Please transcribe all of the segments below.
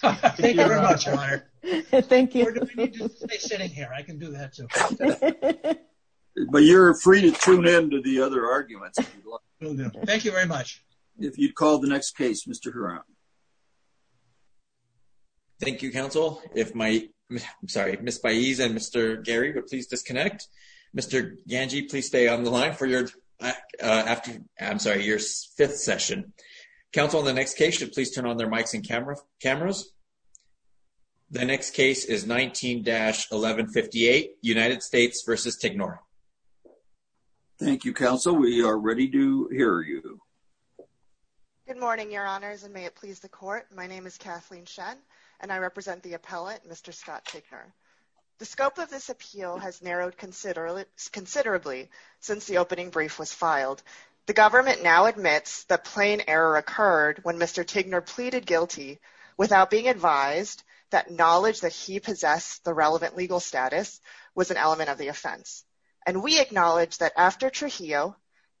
Thank you very much, Your Honor. Thank you. Or do we need to stay sitting here? I can do that, too. But you're free to tune in to the other arguments. Thank you very much. If you'd call the next case, Mr. Huron. Thank you, Counsel. If Ms. Baez and Mr. Gary would please disconnect. Mr. Ganji, please stay on the line for your fifth session. Counsel, on the next case, should please turn on their mics and cameras. The next case is 19-1158, United States v. Tignor. Thank you, Counsel. We are ready to hear you. Good morning, Your Honors, and may it please the Court. My name is Kathleen Shen, and I represent the appellate, Mr. Scott Tignor. The scope of this appeal has narrowed considerably since the opening brief was filed. The government now admits that plain error occurred when Mr. Tignor pleaded guilty without being advised that knowledge that he possessed the relevant legal status was an element of the offense. And we acknowledge that after Trujillo,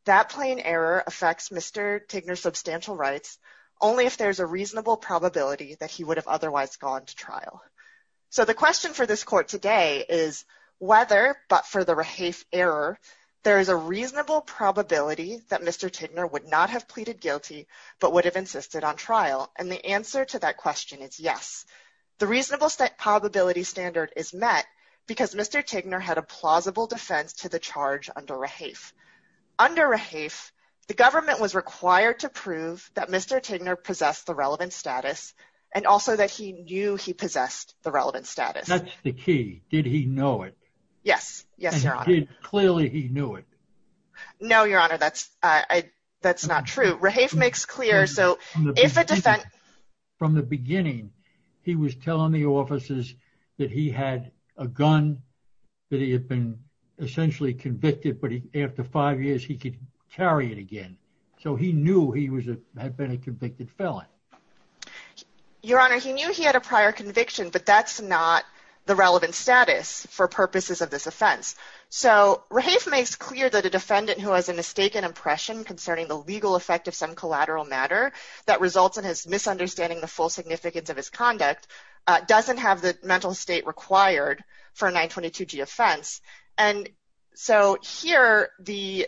that plain error affects Mr. Tignor's substantial rights only if there's a reasonable probability that he would have otherwise gone to trial. So the question for this Court today is whether, but for the rehafe error, there is a reasonable probability that Mr. Tignor would not have pleaded guilty but would have insisted on trial. And the answer to that question is yes. The reasonable probability standard is met because Mr. Tignor had a plausible defense to the charge under rehafe. Under rehafe, the government was required to prove that Mr. Tignor possessed the relevant status and also that he knew he possessed the relevant status. That's the key. Did he know it? Yes. Yes, Your Honor. Clearly, he knew it. No, Your Honor, that's not true. From the beginning, he was telling the officers that he had a gun, that he had been essentially convicted, but after five years, he could carry it again. So he knew he had been a convicted felon. Your Honor, he knew he had a prior conviction, but that's not the relevant status for purposes of this offense. So rehafe makes clear that a defendant who has a mistaken impression concerning the legal effect of some collateral matter that results in his misunderstanding the full significance of his conduct doesn't have the mental state required for a 922g offense. And so here, the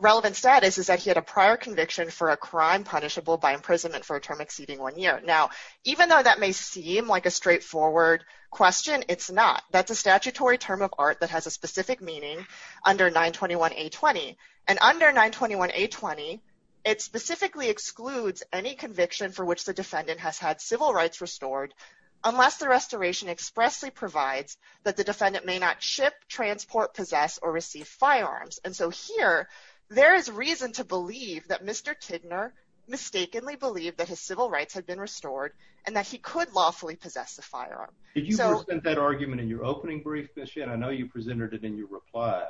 relevant status is that he had a prior conviction for a crime punishable by imprisonment for a term exceeding one year. Now, even though that may seem like a straightforward question, it's not. That's a statutory term of art that has a specific meaning under 921a20. And under 921a20, it specifically excludes any conviction for which the defendant has had civil rights restored unless the restoration expressly provides that the defendant may not ship, transport, possess, or receive firearms. And so here, there is reason to believe that Mr. Tidner mistakenly believed that his civil rights had been restored and that he could lawfully possess a firearm. Did you present that argument in your opening brief this year? I know you presented it in your reply.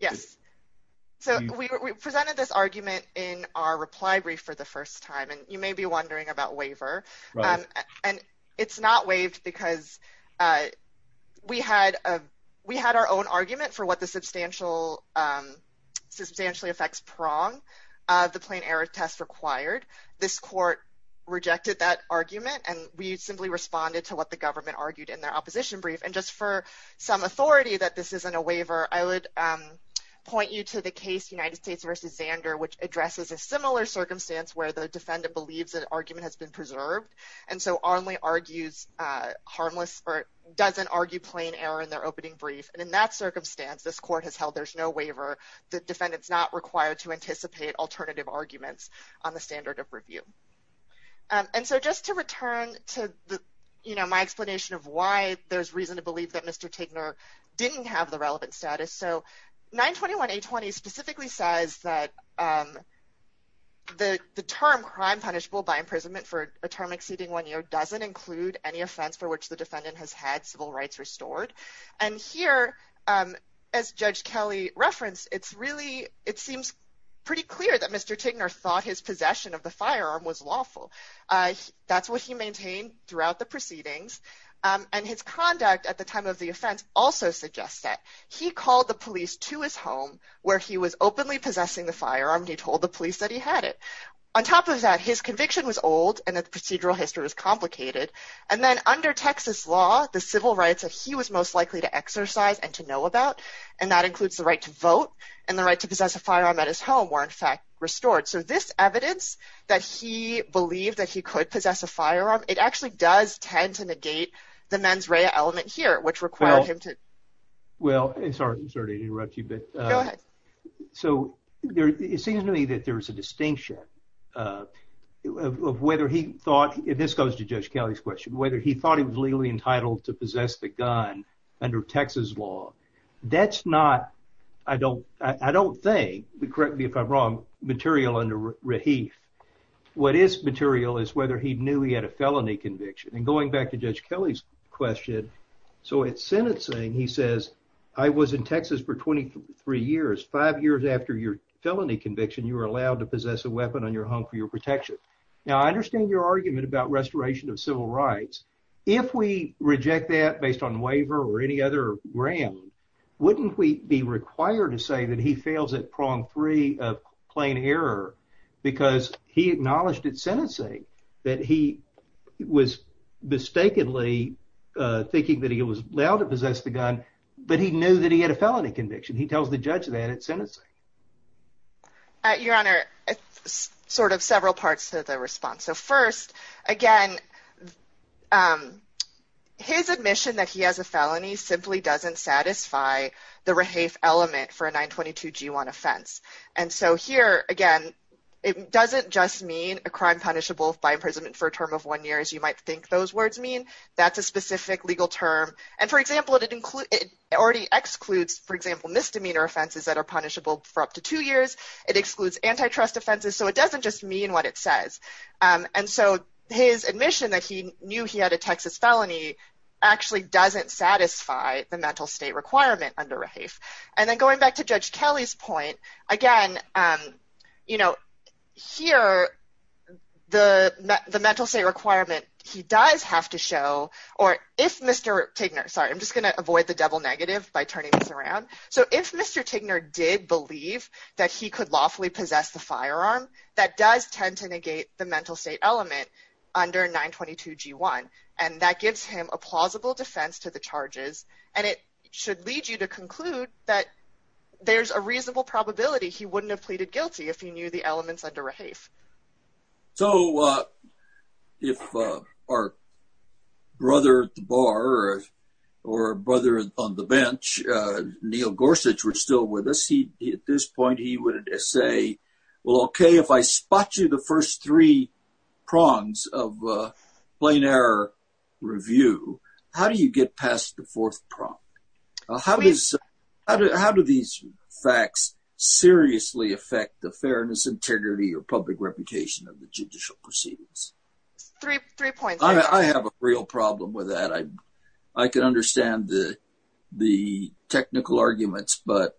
Yes. So we presented this argument in our reply brief for the first time, and you may be wondering about waiver. And it's not waived because we had our own argument for what the substantially affects prong of the plain error test required. This court rejected that argument, and we simply responded to what the government argued in their opposition brief. And just for some authority that this isn't a waiver, I would point you to the case United States v. Zander, which addresses a similar circumstance where the defendant believes that argument has been preserved and so only argues harmless or doesn't argue plain error in their opening brief. And in that circumstance, this court has held there's no waiver. The defendant's not required to anticipate alternative arguments on the standard of review. And so just to return to my explanation of why there's reason to believe that Mr. Tidner didn't have the relevant status. So 921A20 specifically says that the term crime punishable by imprisonment for a term exceeding one year doesn't include any offense for which the defendant has had civil rights restored. And here, as Judge Kelly referenced, it seems pretty clear that Mr. Tidner thought his possession of the firearm was lawful. That's what he maintained throughout the proceedings. And his conduct at the time of the offense also suggests that he called the police to his home where he was openly possessing the firearm. He told the police that he had it. On top of that, his conviction was old and that the procedural history was complicated. And then under Texas law, the civil rights that he was most likely to exercise and to know about, and that includes the right to vote and the right to possess a firearm at his home, were in fact restored. So this evidence that he believed that he could possess a firearm, it actually does tend to negate the mens rea element here, which required him to. Well, sorry to interrupt you, but. Go ahead. So it seems to me that there is a distinction of whether he thought, and this goes to Judge Kelly's question, whether he thought he was legally entitled to possess the gun under Texas law. That's not, I don't think, correct me if I'm wrong, material under Rahif. What is material is whether he knew he had a felony conviction. And going back to Judge Kelly's question, so at sentencing, he says, I was in Texas for 23 years. Five years after your felony conviction, you were allowed to possess a weapon on your home for your protection. Now, I understand your argument about restoration of civil rights. If we reject that based on waiver or any other gram, wouldn't we be required to say that he fails at prong three of plain error because he acknowledged at sentencing that he was mistakenly thinking that he was allowed to possess the gun, but he knew that he had a felony conviction. He tells the judge that at sentencing. Your Honor, sort of several parts of the response. So first, again, his admission that he has a felony simply doesn't satisfy the Rahif element for a 922-G1 offense. And so here, again, it doesn't just mean a crime punishable by imprisonment for a term of one year, as you might think those words mean. That's a specific legal term. And for example, it already excludes, for example, misdemeanor offenses that are punishable for up to two years. It excludes antitrust offenses. So it doesn't just mean what it says. And so his admission that he knew he had a Texas felony actually doesn't satisfy the mental state requirement under Rahif. And then going back to Judge Kelly's point, again, you know, here, the mental state requirement, he does have to show, or if Mr. Tigner, sorry, I'm just going to avoid the double negative by turning this around. So if Mr. Tigner did believe that he could lawfully possess the firearm, that does tend to negate the mental state element under 922-G1. And that gives him a plausible defense to the charges. And it should lead you to conclude that there's a reasonable probability he wouldn't have pleaded guilty if he knew the elements under Rahif. So if our brother at the bar or brother on the bench, Neil Gorsuch, were still with us, at this point, he would say, well, okay, if I spot you the first three prongs of a plain error review, how do you get past the fourth prong? How do these facts seriously affect the fairness, integrity, or public reputation of the judicial proceedings? Three points. I have a real problem with that. I can understand the technical arguments, but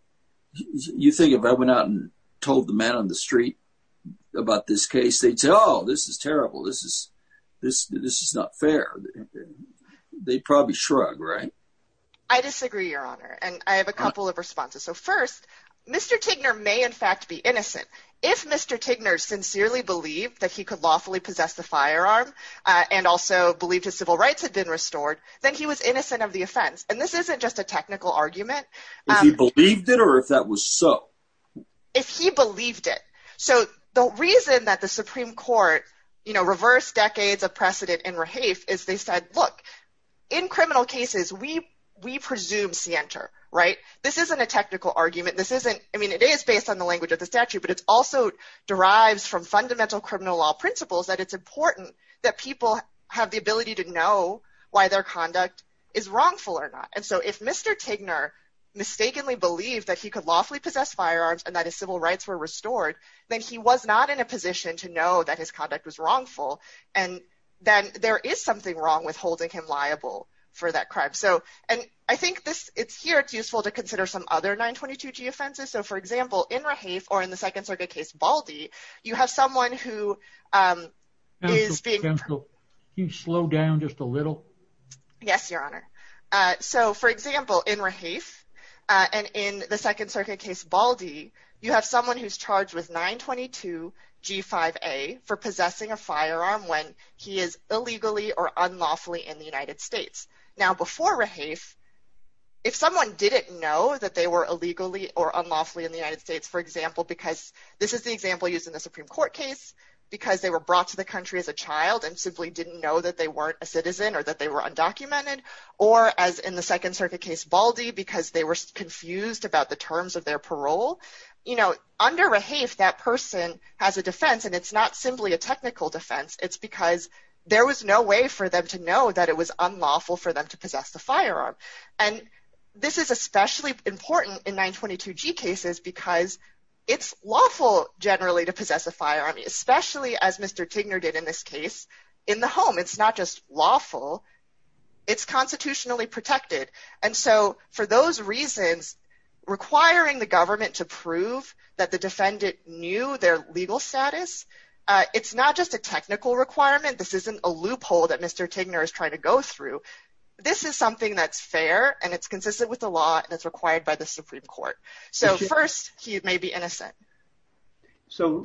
you think if I went out and told the man on the street about this case, they'd say, oh, this is terrible. This is not fair. They'd probably shrug, right? I disagree, Your Honor. And I have a couple of responses. So first, Mr. Tignor may in fact be innocent. If Mr. Tignor sincerely believed that he could lawfully possess the firearm and also believed his civil rights had been restored, then he was innocent of the offense. And this isn't just a technical argument. If he believed it or if that was so? If he believed it. So the reason that the Supreme Court, you know, reversed decades of precedent in Rahafe is they said, look, in criminal cases, we presume scienter, right? This isn't a technical argument. This isn't I mean, it is based on the language of the statute, but it's also derives from fundamental criminal law principles that it's important that people have the ability to know why their conduct is wrongful or not. And so if Mr. Tignor mistakenly believed that he could lawfully possess firearms and that his civil rights were restored, then he was not in a position to know that his conduct was wrongful. And then there is something wrong with holding him liable for that crime. So and I think this it's here. It's useful to consider some other 922G offenses. So, for example, in Rahafe or in the Second Circuit case Baldi, you have someone who is being. Can you slow down just a little? Yes, Your Honor. So, for example, in Rahafe and in the Second Circuit case Baldi, you have someone who's charged with 922G5A for possessing a firearm when he is illegally or unlawfully in the United States. Now, before Rahafe, if someone didn't know that they were illegally or unlawfully in the United States, for example, because this is the example used in the Supreme Court case because they were brought to the country as a child and simply didn't know that they weren't a citizen or that they were undocumented. Or as in the Second Circuit case Baldi, because they were confused about the terms of their parole. You know, under Rahafe, that person has a defense and it's not simply a technical defense. It's because there was no way for them to know that it was unlawful for them to possess the firearm. And this is especially important in 922G cases because it's lawful generally to possess a firearm, especially as Mr. Tigner did in this case in the home. It's not just lawful. It's constitutionally protected. And so for those reasons, requiring the government to prove that the defendant knew their legal status, it's not just a technical requirement. This isn't a loophole that Mr. Tigner is trying to go through. This is something that's fair and it's consistent with the law that's required by the Supreme Court. So first, he may be innocent. So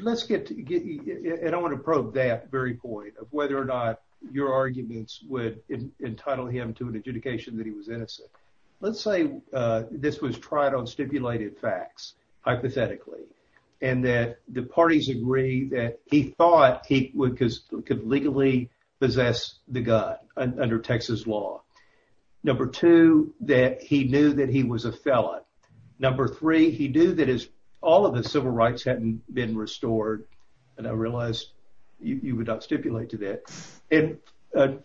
let's get to, and I want to probe that very point of whether or not your arguments would entitle him to an adjudication that he was innocent. Let's say this was tried on stipulated facts, hypothetically, and that the parties agree that he thought he could legally possess the gun under Texas law. Number two, that he knew that he was a felon. Number three, he knew that all of his civil rights hadn't been restored. And I realize you would not stipulate to that. And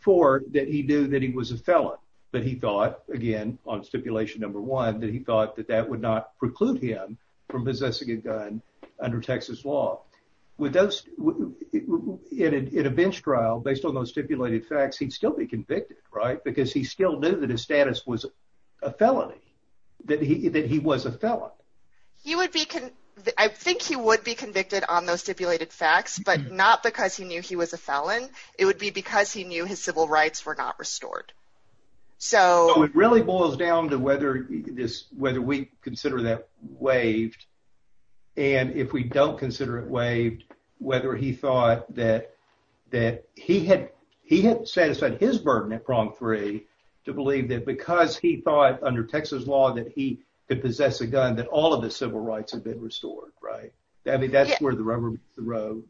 four, that he knew that he was a felon. But he thought, again, on stipulation number one, that he thought that that would not preclude him from possessing a gun under Texas law. In a bench trial, based on those stipulated facts, he'd still be convicted, right? That he was a felon. I think he would be convicted on those stipulated facts, but not because he knew he was a felon. It would be because he knew his civil rights were not restored. So it really boils down to whether we consider that waived, and if we don't consider it waived, whether he thought that he had satisfied his burden at Prog 3 to believe that because he thought under Texas law that he could possess a gun, that all of his civil rights had been restored, right? I mean, that's where the rubber meets the road.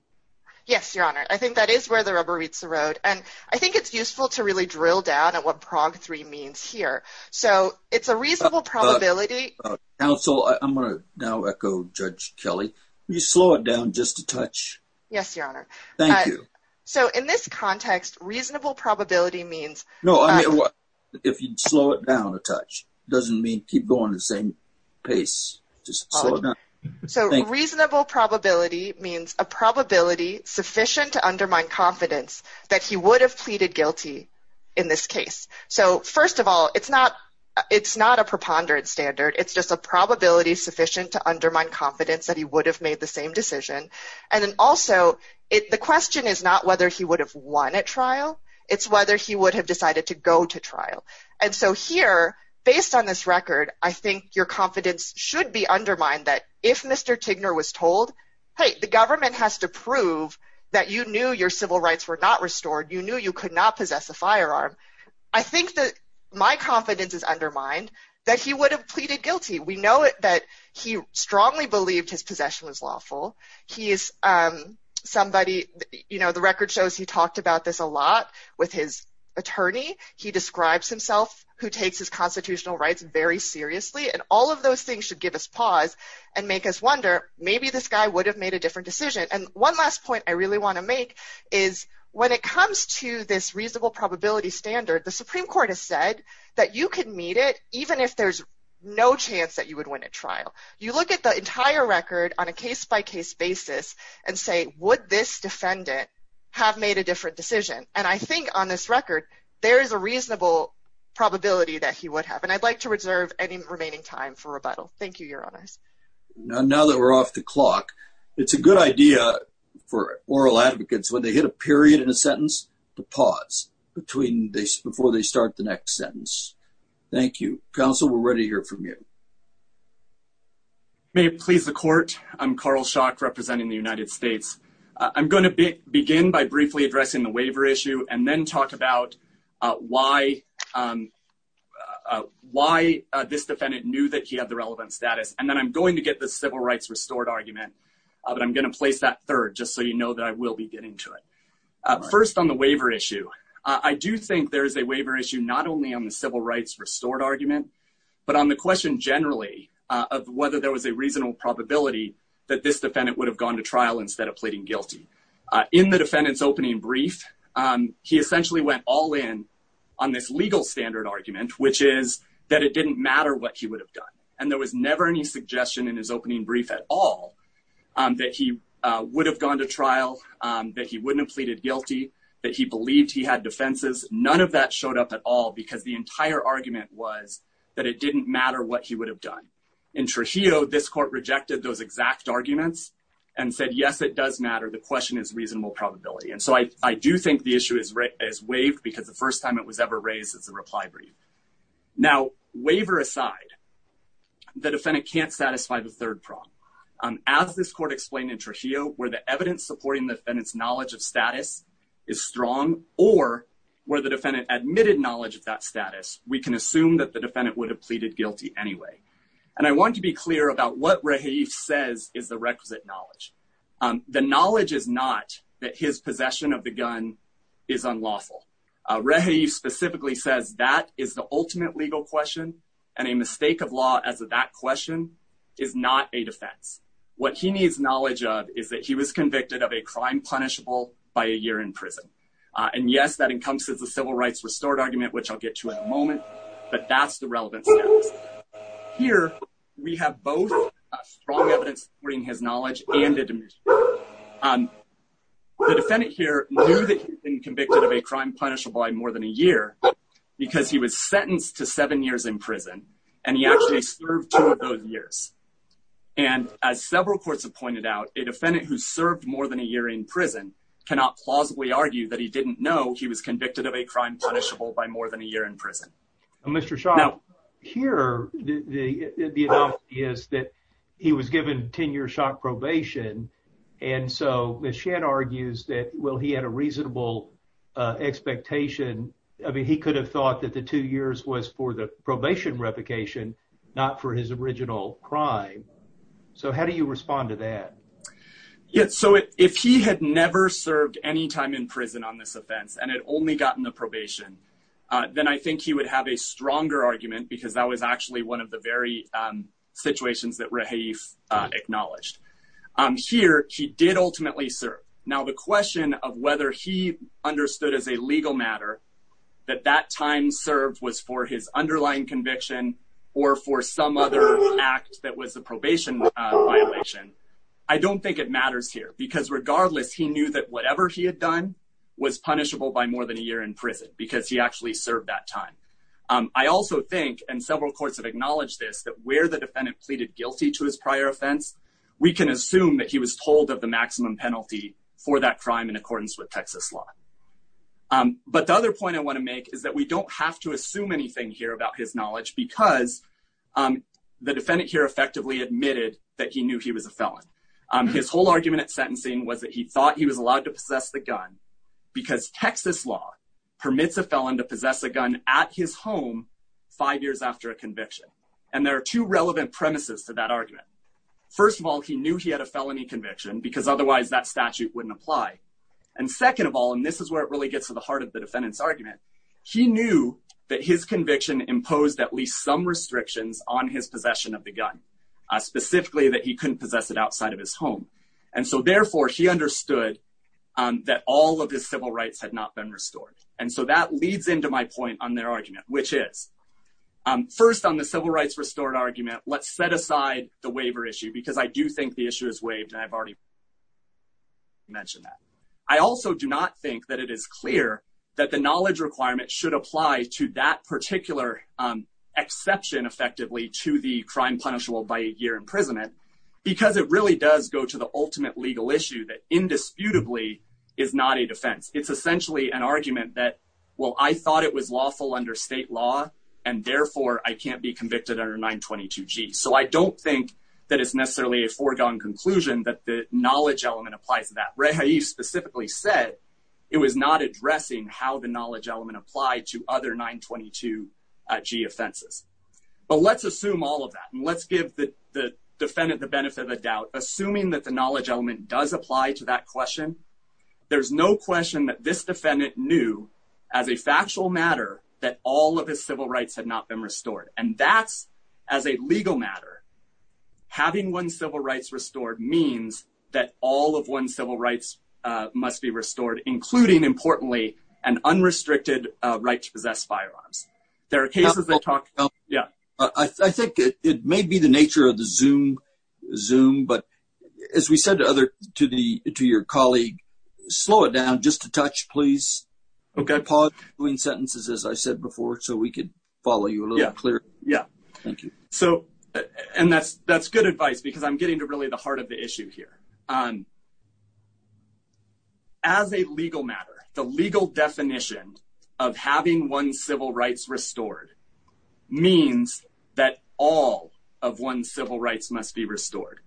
Yes, Your Honor. I think that is where the rubber meets the road. And I think it's useful to really drill down at what Prog 3 means here. So it's a reasonable probability. Counsel, I'm going to now echo Judge Kelly. Will you slow it down just a touch? Yes, Your Honor. Thank you. So in this context, reasonable probability means... No, I mean, if you'd slow it down a touch, it doesn't mean keep going at the same pace. Just slow it down. So reasonable probability means a probability sufficient to undermine confidence that he would have pleaded guilty in this case. So first of all, it's not a preponderance standard. It's just a probability sufficient to undermine confidence that he would have made the same decision. And then also, the question is not whether he would have won at trial. It's whether he would have decided to go to trial. And so here, based on this record, I think your confidence should be undermined that if Mr. Tigner was told, hey, the government has to prove that you knew your civil rights were not restored. You knew you could not possess a firearm. I think that my confidence is undermined that he would have pleaded guilty. We know that he strongly believed his possession was lawful. He is somebody, you know, the record shows he talked about this a lot with his attorney. He describes himself who takes his constitutional rights very seriously. And all of those things should give us pause and make us wonder, maybe this guy would have made a different decision. And one last point I really want to make is when it comes to this reasonable probability standard, the Supreme Court has said that you can meet it even if there's no chance that you would win at trial. You look at the entire record on a case-by-case basis and say, would this defendant have made a different decision? And I think on this record, there is a reasonable probability that he would have. And I'd like to reserve any remaining time for rebuttal. Thank you, Your Honors. Now that we're off the clock, it's a good idea for oral advocates, when they hit a period in a sentence, to pause before they start the next sentence. Thank you. Counsel, we're ready to hear from you. May it please the Court, I'm Carl Schock representing the United States. I'm going to begin by briefly addressing the waiver issue and then talk about why this defendant knew that he had the relevant status. And then I'm going to get the civil rights restored argument, but I'm going to place that third just so you know that I will be getting to it. First, on the waiver issue, I do think there is a waiver issue not only on the civil rights restored argument, but on the question generally of whether there was a reasonable probability that this defendant would have gone to trial instead of pleading guilty. In the defendant's opening brief, he essentially went all in on this legal standard argument, which is that it didn't matter what he would have done. And there was never any suggestion in his opening brief at all that he would have gone to trial, that he wouldn't have pleaded guilty, that he believed he had defenses. None of that showed up at all because the entire argument was that it didn't matter what he would have done. In Trujillo, this court rejected those exact arguments and said, yes, it does matter. The question is reasonable probability. And so I do think the issue is waived because the first time it was ever raised as a reply brief. Now, waiver aside, the defendant can't satisfy the third problem. As this court explained in Trujillo, where the evidence supporting the defendant's knowledge of status is strong or where the defendant admitted knowledge of that status, we can assume that the defendant would have pleaded guilty anyway. And I want to be clear about what Rahif says is the requisite knowledge. The knowledge is not that his possession of the gun is unlawful. Rahif specifically says that is the ultimate legal question. And a mistake of law as of that question is not a defense. What he needs knowledge of is that he was convicted of a crime punishable by a year in prison. And, yes, that encompasses the civil rights restored argument, which I'll get to in a moment. But that's the relevance. Here we have both strong evidence supporting his knowledge. The defendant here knew that he had been convicted of a crime punishable by more than a year because he was sentenced to seven years in prison. And he actually served two of those years. And as several courts have pointed out, a defendant who served more than a year in prison cannot plausibly argue that he didn't know he was convicted of a crime punishable by more than a year in prison. Mr. Schott, here, the analogy is that he was given 10-year shock probation. And so Ms. Shedd argues that, well, he had a reasonable expectation. I mean, he could have thought that the two years was for the probation replication, not for his original crime. So how do you respond to that? So if he had never served any time in prison on this offense and had only gotten the probation, then I think he would have a stronger argument because that was actually one of the very situations that Rahif acknowledged. Here, he did ultimately serve. Now, the question of whether he understood as a legal matter that that time served was for his underlying conviction or for some other act that was a probation violation. I don't think it matters here because, regardless, he knew that whatever he had done was punishable by more than a year in prison because he actually served that time. I also think, and several courts have acknowledged this, that where the defendant pleaded guilty to his prior offense, we can assume that he was told of the maximum penalty for that crime in accordance with Texas law. But the other point I want to make is that we don't have to assume anything here about his knowledge because the defendant here effectively admitted that he knew he was a felon. His whole argument at sentencing was that he thought he was allowed to possess the gun because Texas law permits a felon to possess a gun at his home five years after a conviction. And there are two relevant premises to that argument. First of all, he knew he had a felony conviction because otherwise that statute wouldn't apply. And second of all, and this is where it really gets to the heart of the defendant's argument, he knew that his conviction imposed at least some restrictions on his possession of the gun, specifically that he couldn't possess it outside of his home. And so, therefore, he understood that all of his civil rights had not been restored. And so that leads into my point on their argument, which is, first on the civil rights restored argument, let's set aside the waiver issue because I do think the issue is waived. And I've already mentioned that. I also do not think that it is clear that the knowledge requirement should apply to that particular exception effectively to the crime punishable by a year imprisonment because it really does go to the ultimate legal issue that indisputably is not a defense. It's essentially an argument that, well, I thought it was lawful under state law, and therefore I can't be convicted under 922 G. So I don't think that it's necessarily a foregone conclusion that the knowledge element applies to that. said it was not addressing how the knowledge element applied to other 922 G offenses. But let's assume all of that. And let's give the defendant the benefit of the doubt, assuming that the knowledge element does apply to that question. There's no question that this defendant knew as a factual matter that all of his civil rights had not been restored. And that's as a legal matter. Having one's civil rights restored means that all of one's civil rights must be restored, including, importantly, an unrestricted right to possess firearms. I think it may be the nature of the Zoom, but as we said to your colleague, slow it down just a touch, please. Pause between sentences, as I said before, so we could follow you a little clearer. Yeah, thank you. So and that's that's good advice, because I'm getting to really the heart of the issue here. As a legal matter, the legal definition of having one's civil rights restored means that all of one's civil rights must be restored,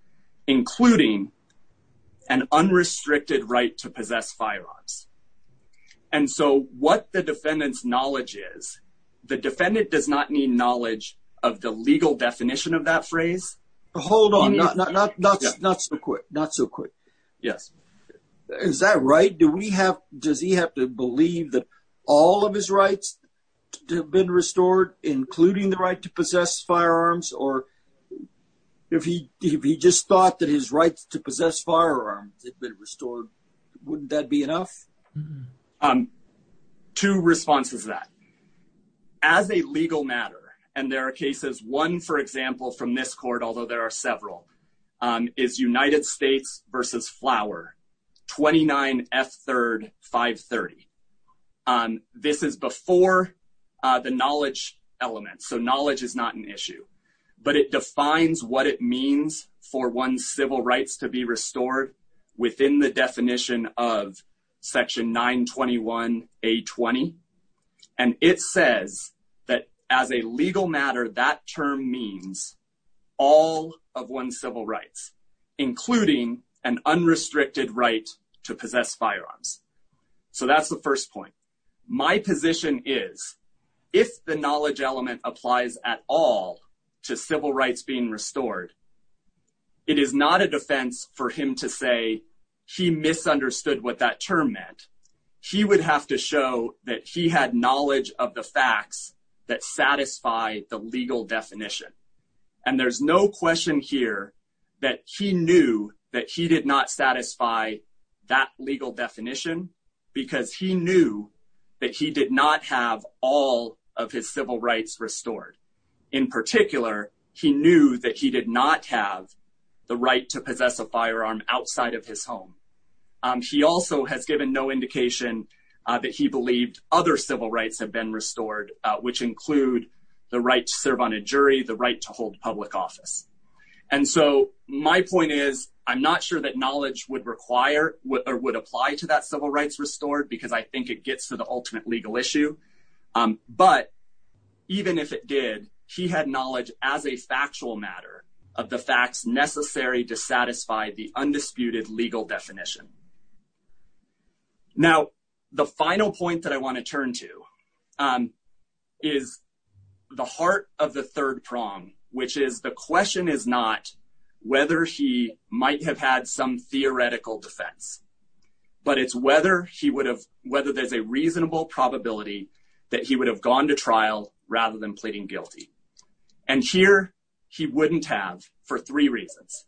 including an unrestricted right to possess firearms. And so what the defendant's knowledge is, the defendant does not need knowledge of the legal definition of that phrase. Hold on. Not so quick. Not so quick. Yes. Is that right? Do we have does he have to believe that all of his rights have been restored, including the right to possess firearms? Or if he just thought that his rights to possess firearms had been restored, wouldn't that be enough? Two responses that. As a legal matter, and there are cases, one, for example, from this court, although there are several, is United States versus Flower 29 F third 530. And it says that as a legal matter, that term means all of one's civil rights, including an unrestricted right to possess firearms. So that's the first point. My position is, if the knowledge element applies at all to civil rights being restored, it is not a defense for him to say he misunderstood what that term meant. He would have to show that he had knowledge of the facts that satisfy the legal definition. And there's no question here that he knew that he did not satisfy that legal definition because he knew that he did not have all of his civil rights restored. In particular, he knew that he did not have the right to possess a firearm outside of his home. He also has given no indication that he believed other civil rights have been restored, which include the right to serve on a jury, the right to hold public office. And so my point is, I'm not sure that knowledge would require or would apply to that civil rights restored because I think it gets to the ultimate legal issue. But even if it did, he had knowledge as a factual matter of the facts necessary to satisfy the undisputed legal definition. Now, the final point that I want to turn to is the heart of the third prong, which is the question is not whether he might have had some theoretical defense, but it's whether he would have whether there's a reasonable probability that he would have gone to trial rather than pleading guilty. And here he wouldn't have for three reasons.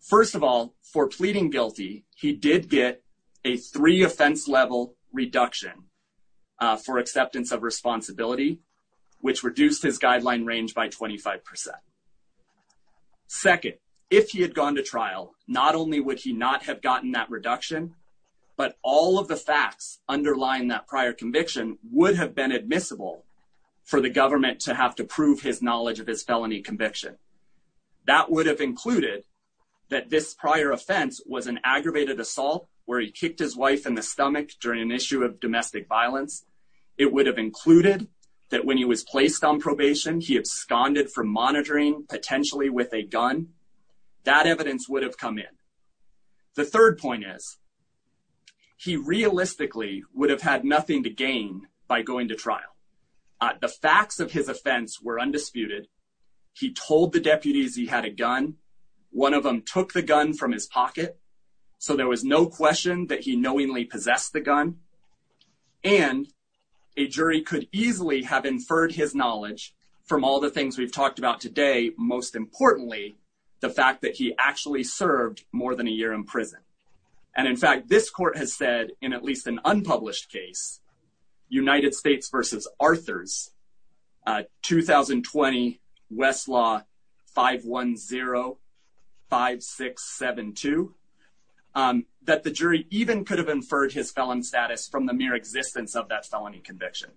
First of all, for pleading guilty, he did get a three offense level reduction for acceptance of responsibility, which reduced his guideline range by 25%. Second, if he had gone to trial, not only would he not have gotten that reduction, but all of the facts underlying that prior conviction would have been admissible for the government to have to prove his knowledge of his felony conviction. That would have included that this prior offense was an aggravated assault where he kicked his wife in the stomach during an issue of domestic violence. It would have included that when he was placed on probation, he absconded from monitoring potentially with a gun. That evidence would have come in. The third point is he realistically would have had nothing to gain by going to trial. The facts of his offense were undisputed. He told the deputies he had a gun. One of them took the gun from his pocket. So there was no question that he knowingly possessed the gun and a jury could easily have inferred his knowledge from all the things we've talked about today. Most importantly, the fact that he actually served more than a year in prison. And in fact, this court has said in at least an unpublished case, United States versus Arthur's 2020 Westlaw 5105672, that the jury even could have inferred his felon status from the mere existence of that felony conviction.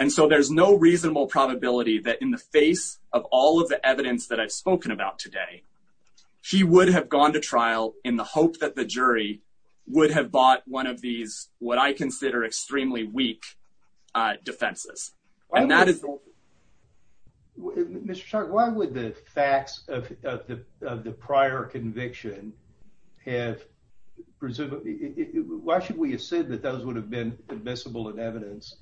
And so there's no reasonable probability that in the face of all of the evidence that I've spoken about today, she would have gone to trial in the hope that the jury would have bought one of these what I consider extremely weak defenses. And that is Mr. Chuck, why would the facts of the prior conviction have presumably why should we assume that those would have been admissible and evidence?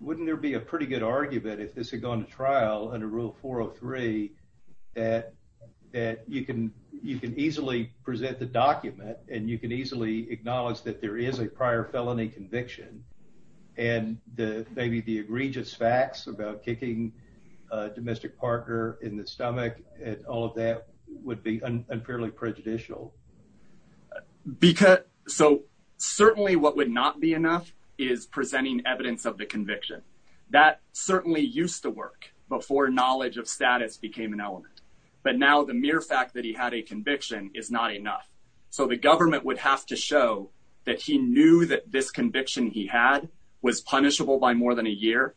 Wouldn't there be a pretty good argument if this had gone to trial under Rule 403 that that you can you can easily present the document and you can easily acknowledge that there is a prior felony conviction. And the maybe the egregious facts about kicking a domestic partner in the stomach and all of that would be unfairly prejudicial. Because so certainly what would not be enough is presenting evidence of the conviction that certainly used to work before knowledge of status became an element. But now the mere fact that he had a conviction is not enough. So the government would have to show that he knew that this conviction he had was punishable by more than a year.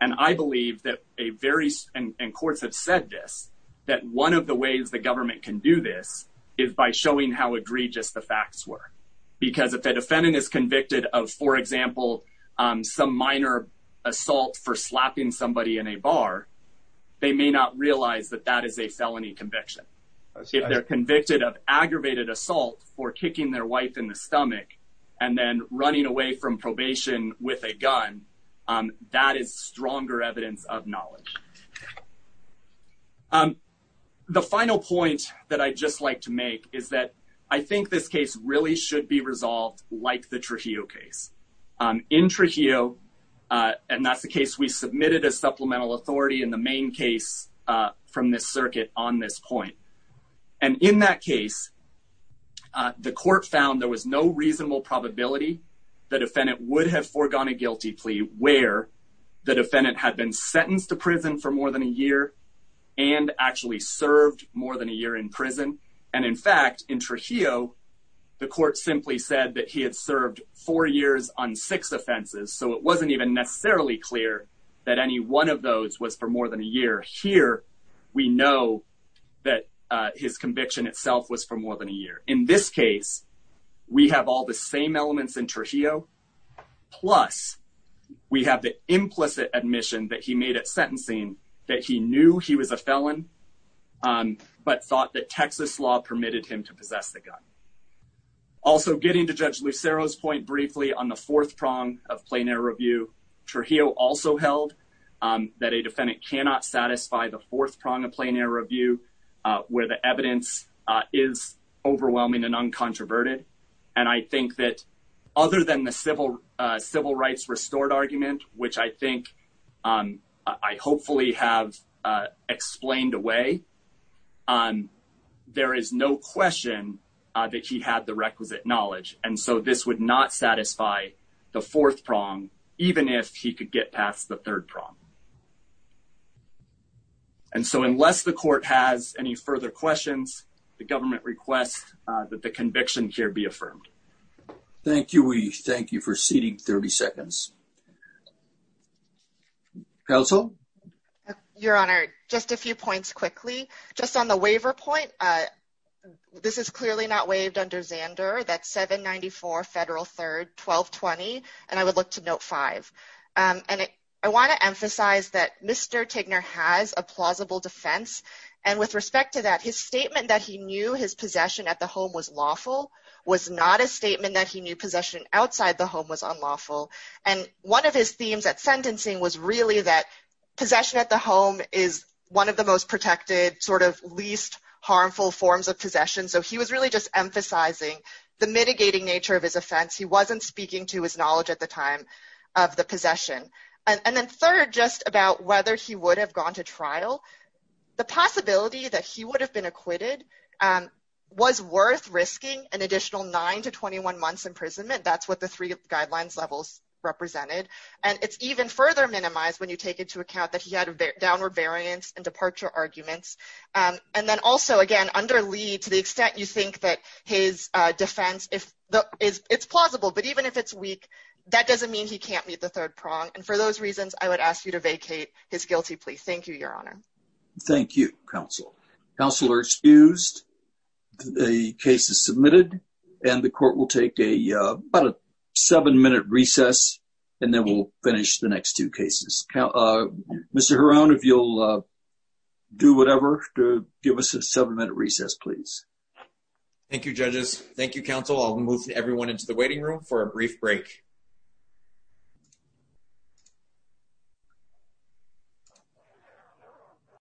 And I believe that a very and courts have said this, that one of the ways the government can do this is by showing how egregious the facts were, because if a defendant is convicted of, for example, some minor assault for slapping somebody in a bar, they may not realize that that is a felony conviction. If they're convicted of aggravated assault for kicking their wife in the stomach and then running away from probation with a gun, that is stronger evidence of knowledge. Um, the final point that I just like to make is that I think this case really should be resolved like the Trujillo case in Trujillo. And that's the case. We submitted a supplemental authority in the main case from this circuit on this point. And in that case, uh, the court found there was no reasonable probability. The defendant would have foregone a guilty plea where the defendant had been sentenced to prison for more than a year and actually served more than a year in prison. And in fact, in Trujillo, the court simply said that he had served four years on six offenses. So it wasn't even necessarily clear that any one of those was for more than a year here. We know that his conviction itself was for more than a year. In this case, we have all the same elements in Trujillo. Plus, we have the implicit admission that he made it sentencing that he knew he was a felon, um, but thought that Texas law permitted him to possess the gun. Also getting to Judge Lucero's point briefly on the fourth prong of plain air review, Trujillo also held that a defendant cannot satisfy the fourth prong of plain air review where the evidence is overwhelming and uncontroverted. And I think that other than the civil, uh, civil rights restored argument, which I think, um, I hopefully have, uh, explained away, um, there is no question that he had the requisite knowledge. And so this would not satisfy the fourth prong, even if he could get past the third prong. And so unless the court has any further questions, the government requests that the conviction here be affirmed. Thank you. We thank you for seating 30 seconds. Counsel? Your Honor, just a few points quickly. Just on the waiver point, uh, this is clearly not waived under Zander. That's 794 Federal 3rd 1220. And I would look to note five. And I want to emphasize that Mr. Tigner has a plausible defense. And with respect to that, his statement that he knew his possession at the home was lawful was not a statement that he knew possession outside the home was unlawful. And one of his themes at sentencing was really that possession at the home is one of the most protected sort of least harmful forms of possession. So he was really just emphasizing the mitigating nature of his offense. He wasn't speaking to his knowledge at the time of the possession. And then third, just about whether he would have gone to trial, the possibility that he would have been acquitted was worth risking an additional nine to 21 months imprisonment. That's what the three guidelines levels represented. And it's even further minimized when you take into account that he had a downward variance and departure arguments. And then also, again, under Lee, to the extent you think that his defense, it's plausible, but even if it's weak, that doesn't mean he can't meet the third prong. And for those reasons, I would ask you to vacate his guilty plea. Thank you, Your Honor. Thank you, Counsel. Counselor excused. The case is submitted and the court will take a seven minute recess and then we'll finish the next two cases. Mr. Huron, if you'll do whatever to give us a seven minute recess, please. Thank you, judges. Thank you, counsel. I'll move everyone into the waiting room for a brief break. Thank you.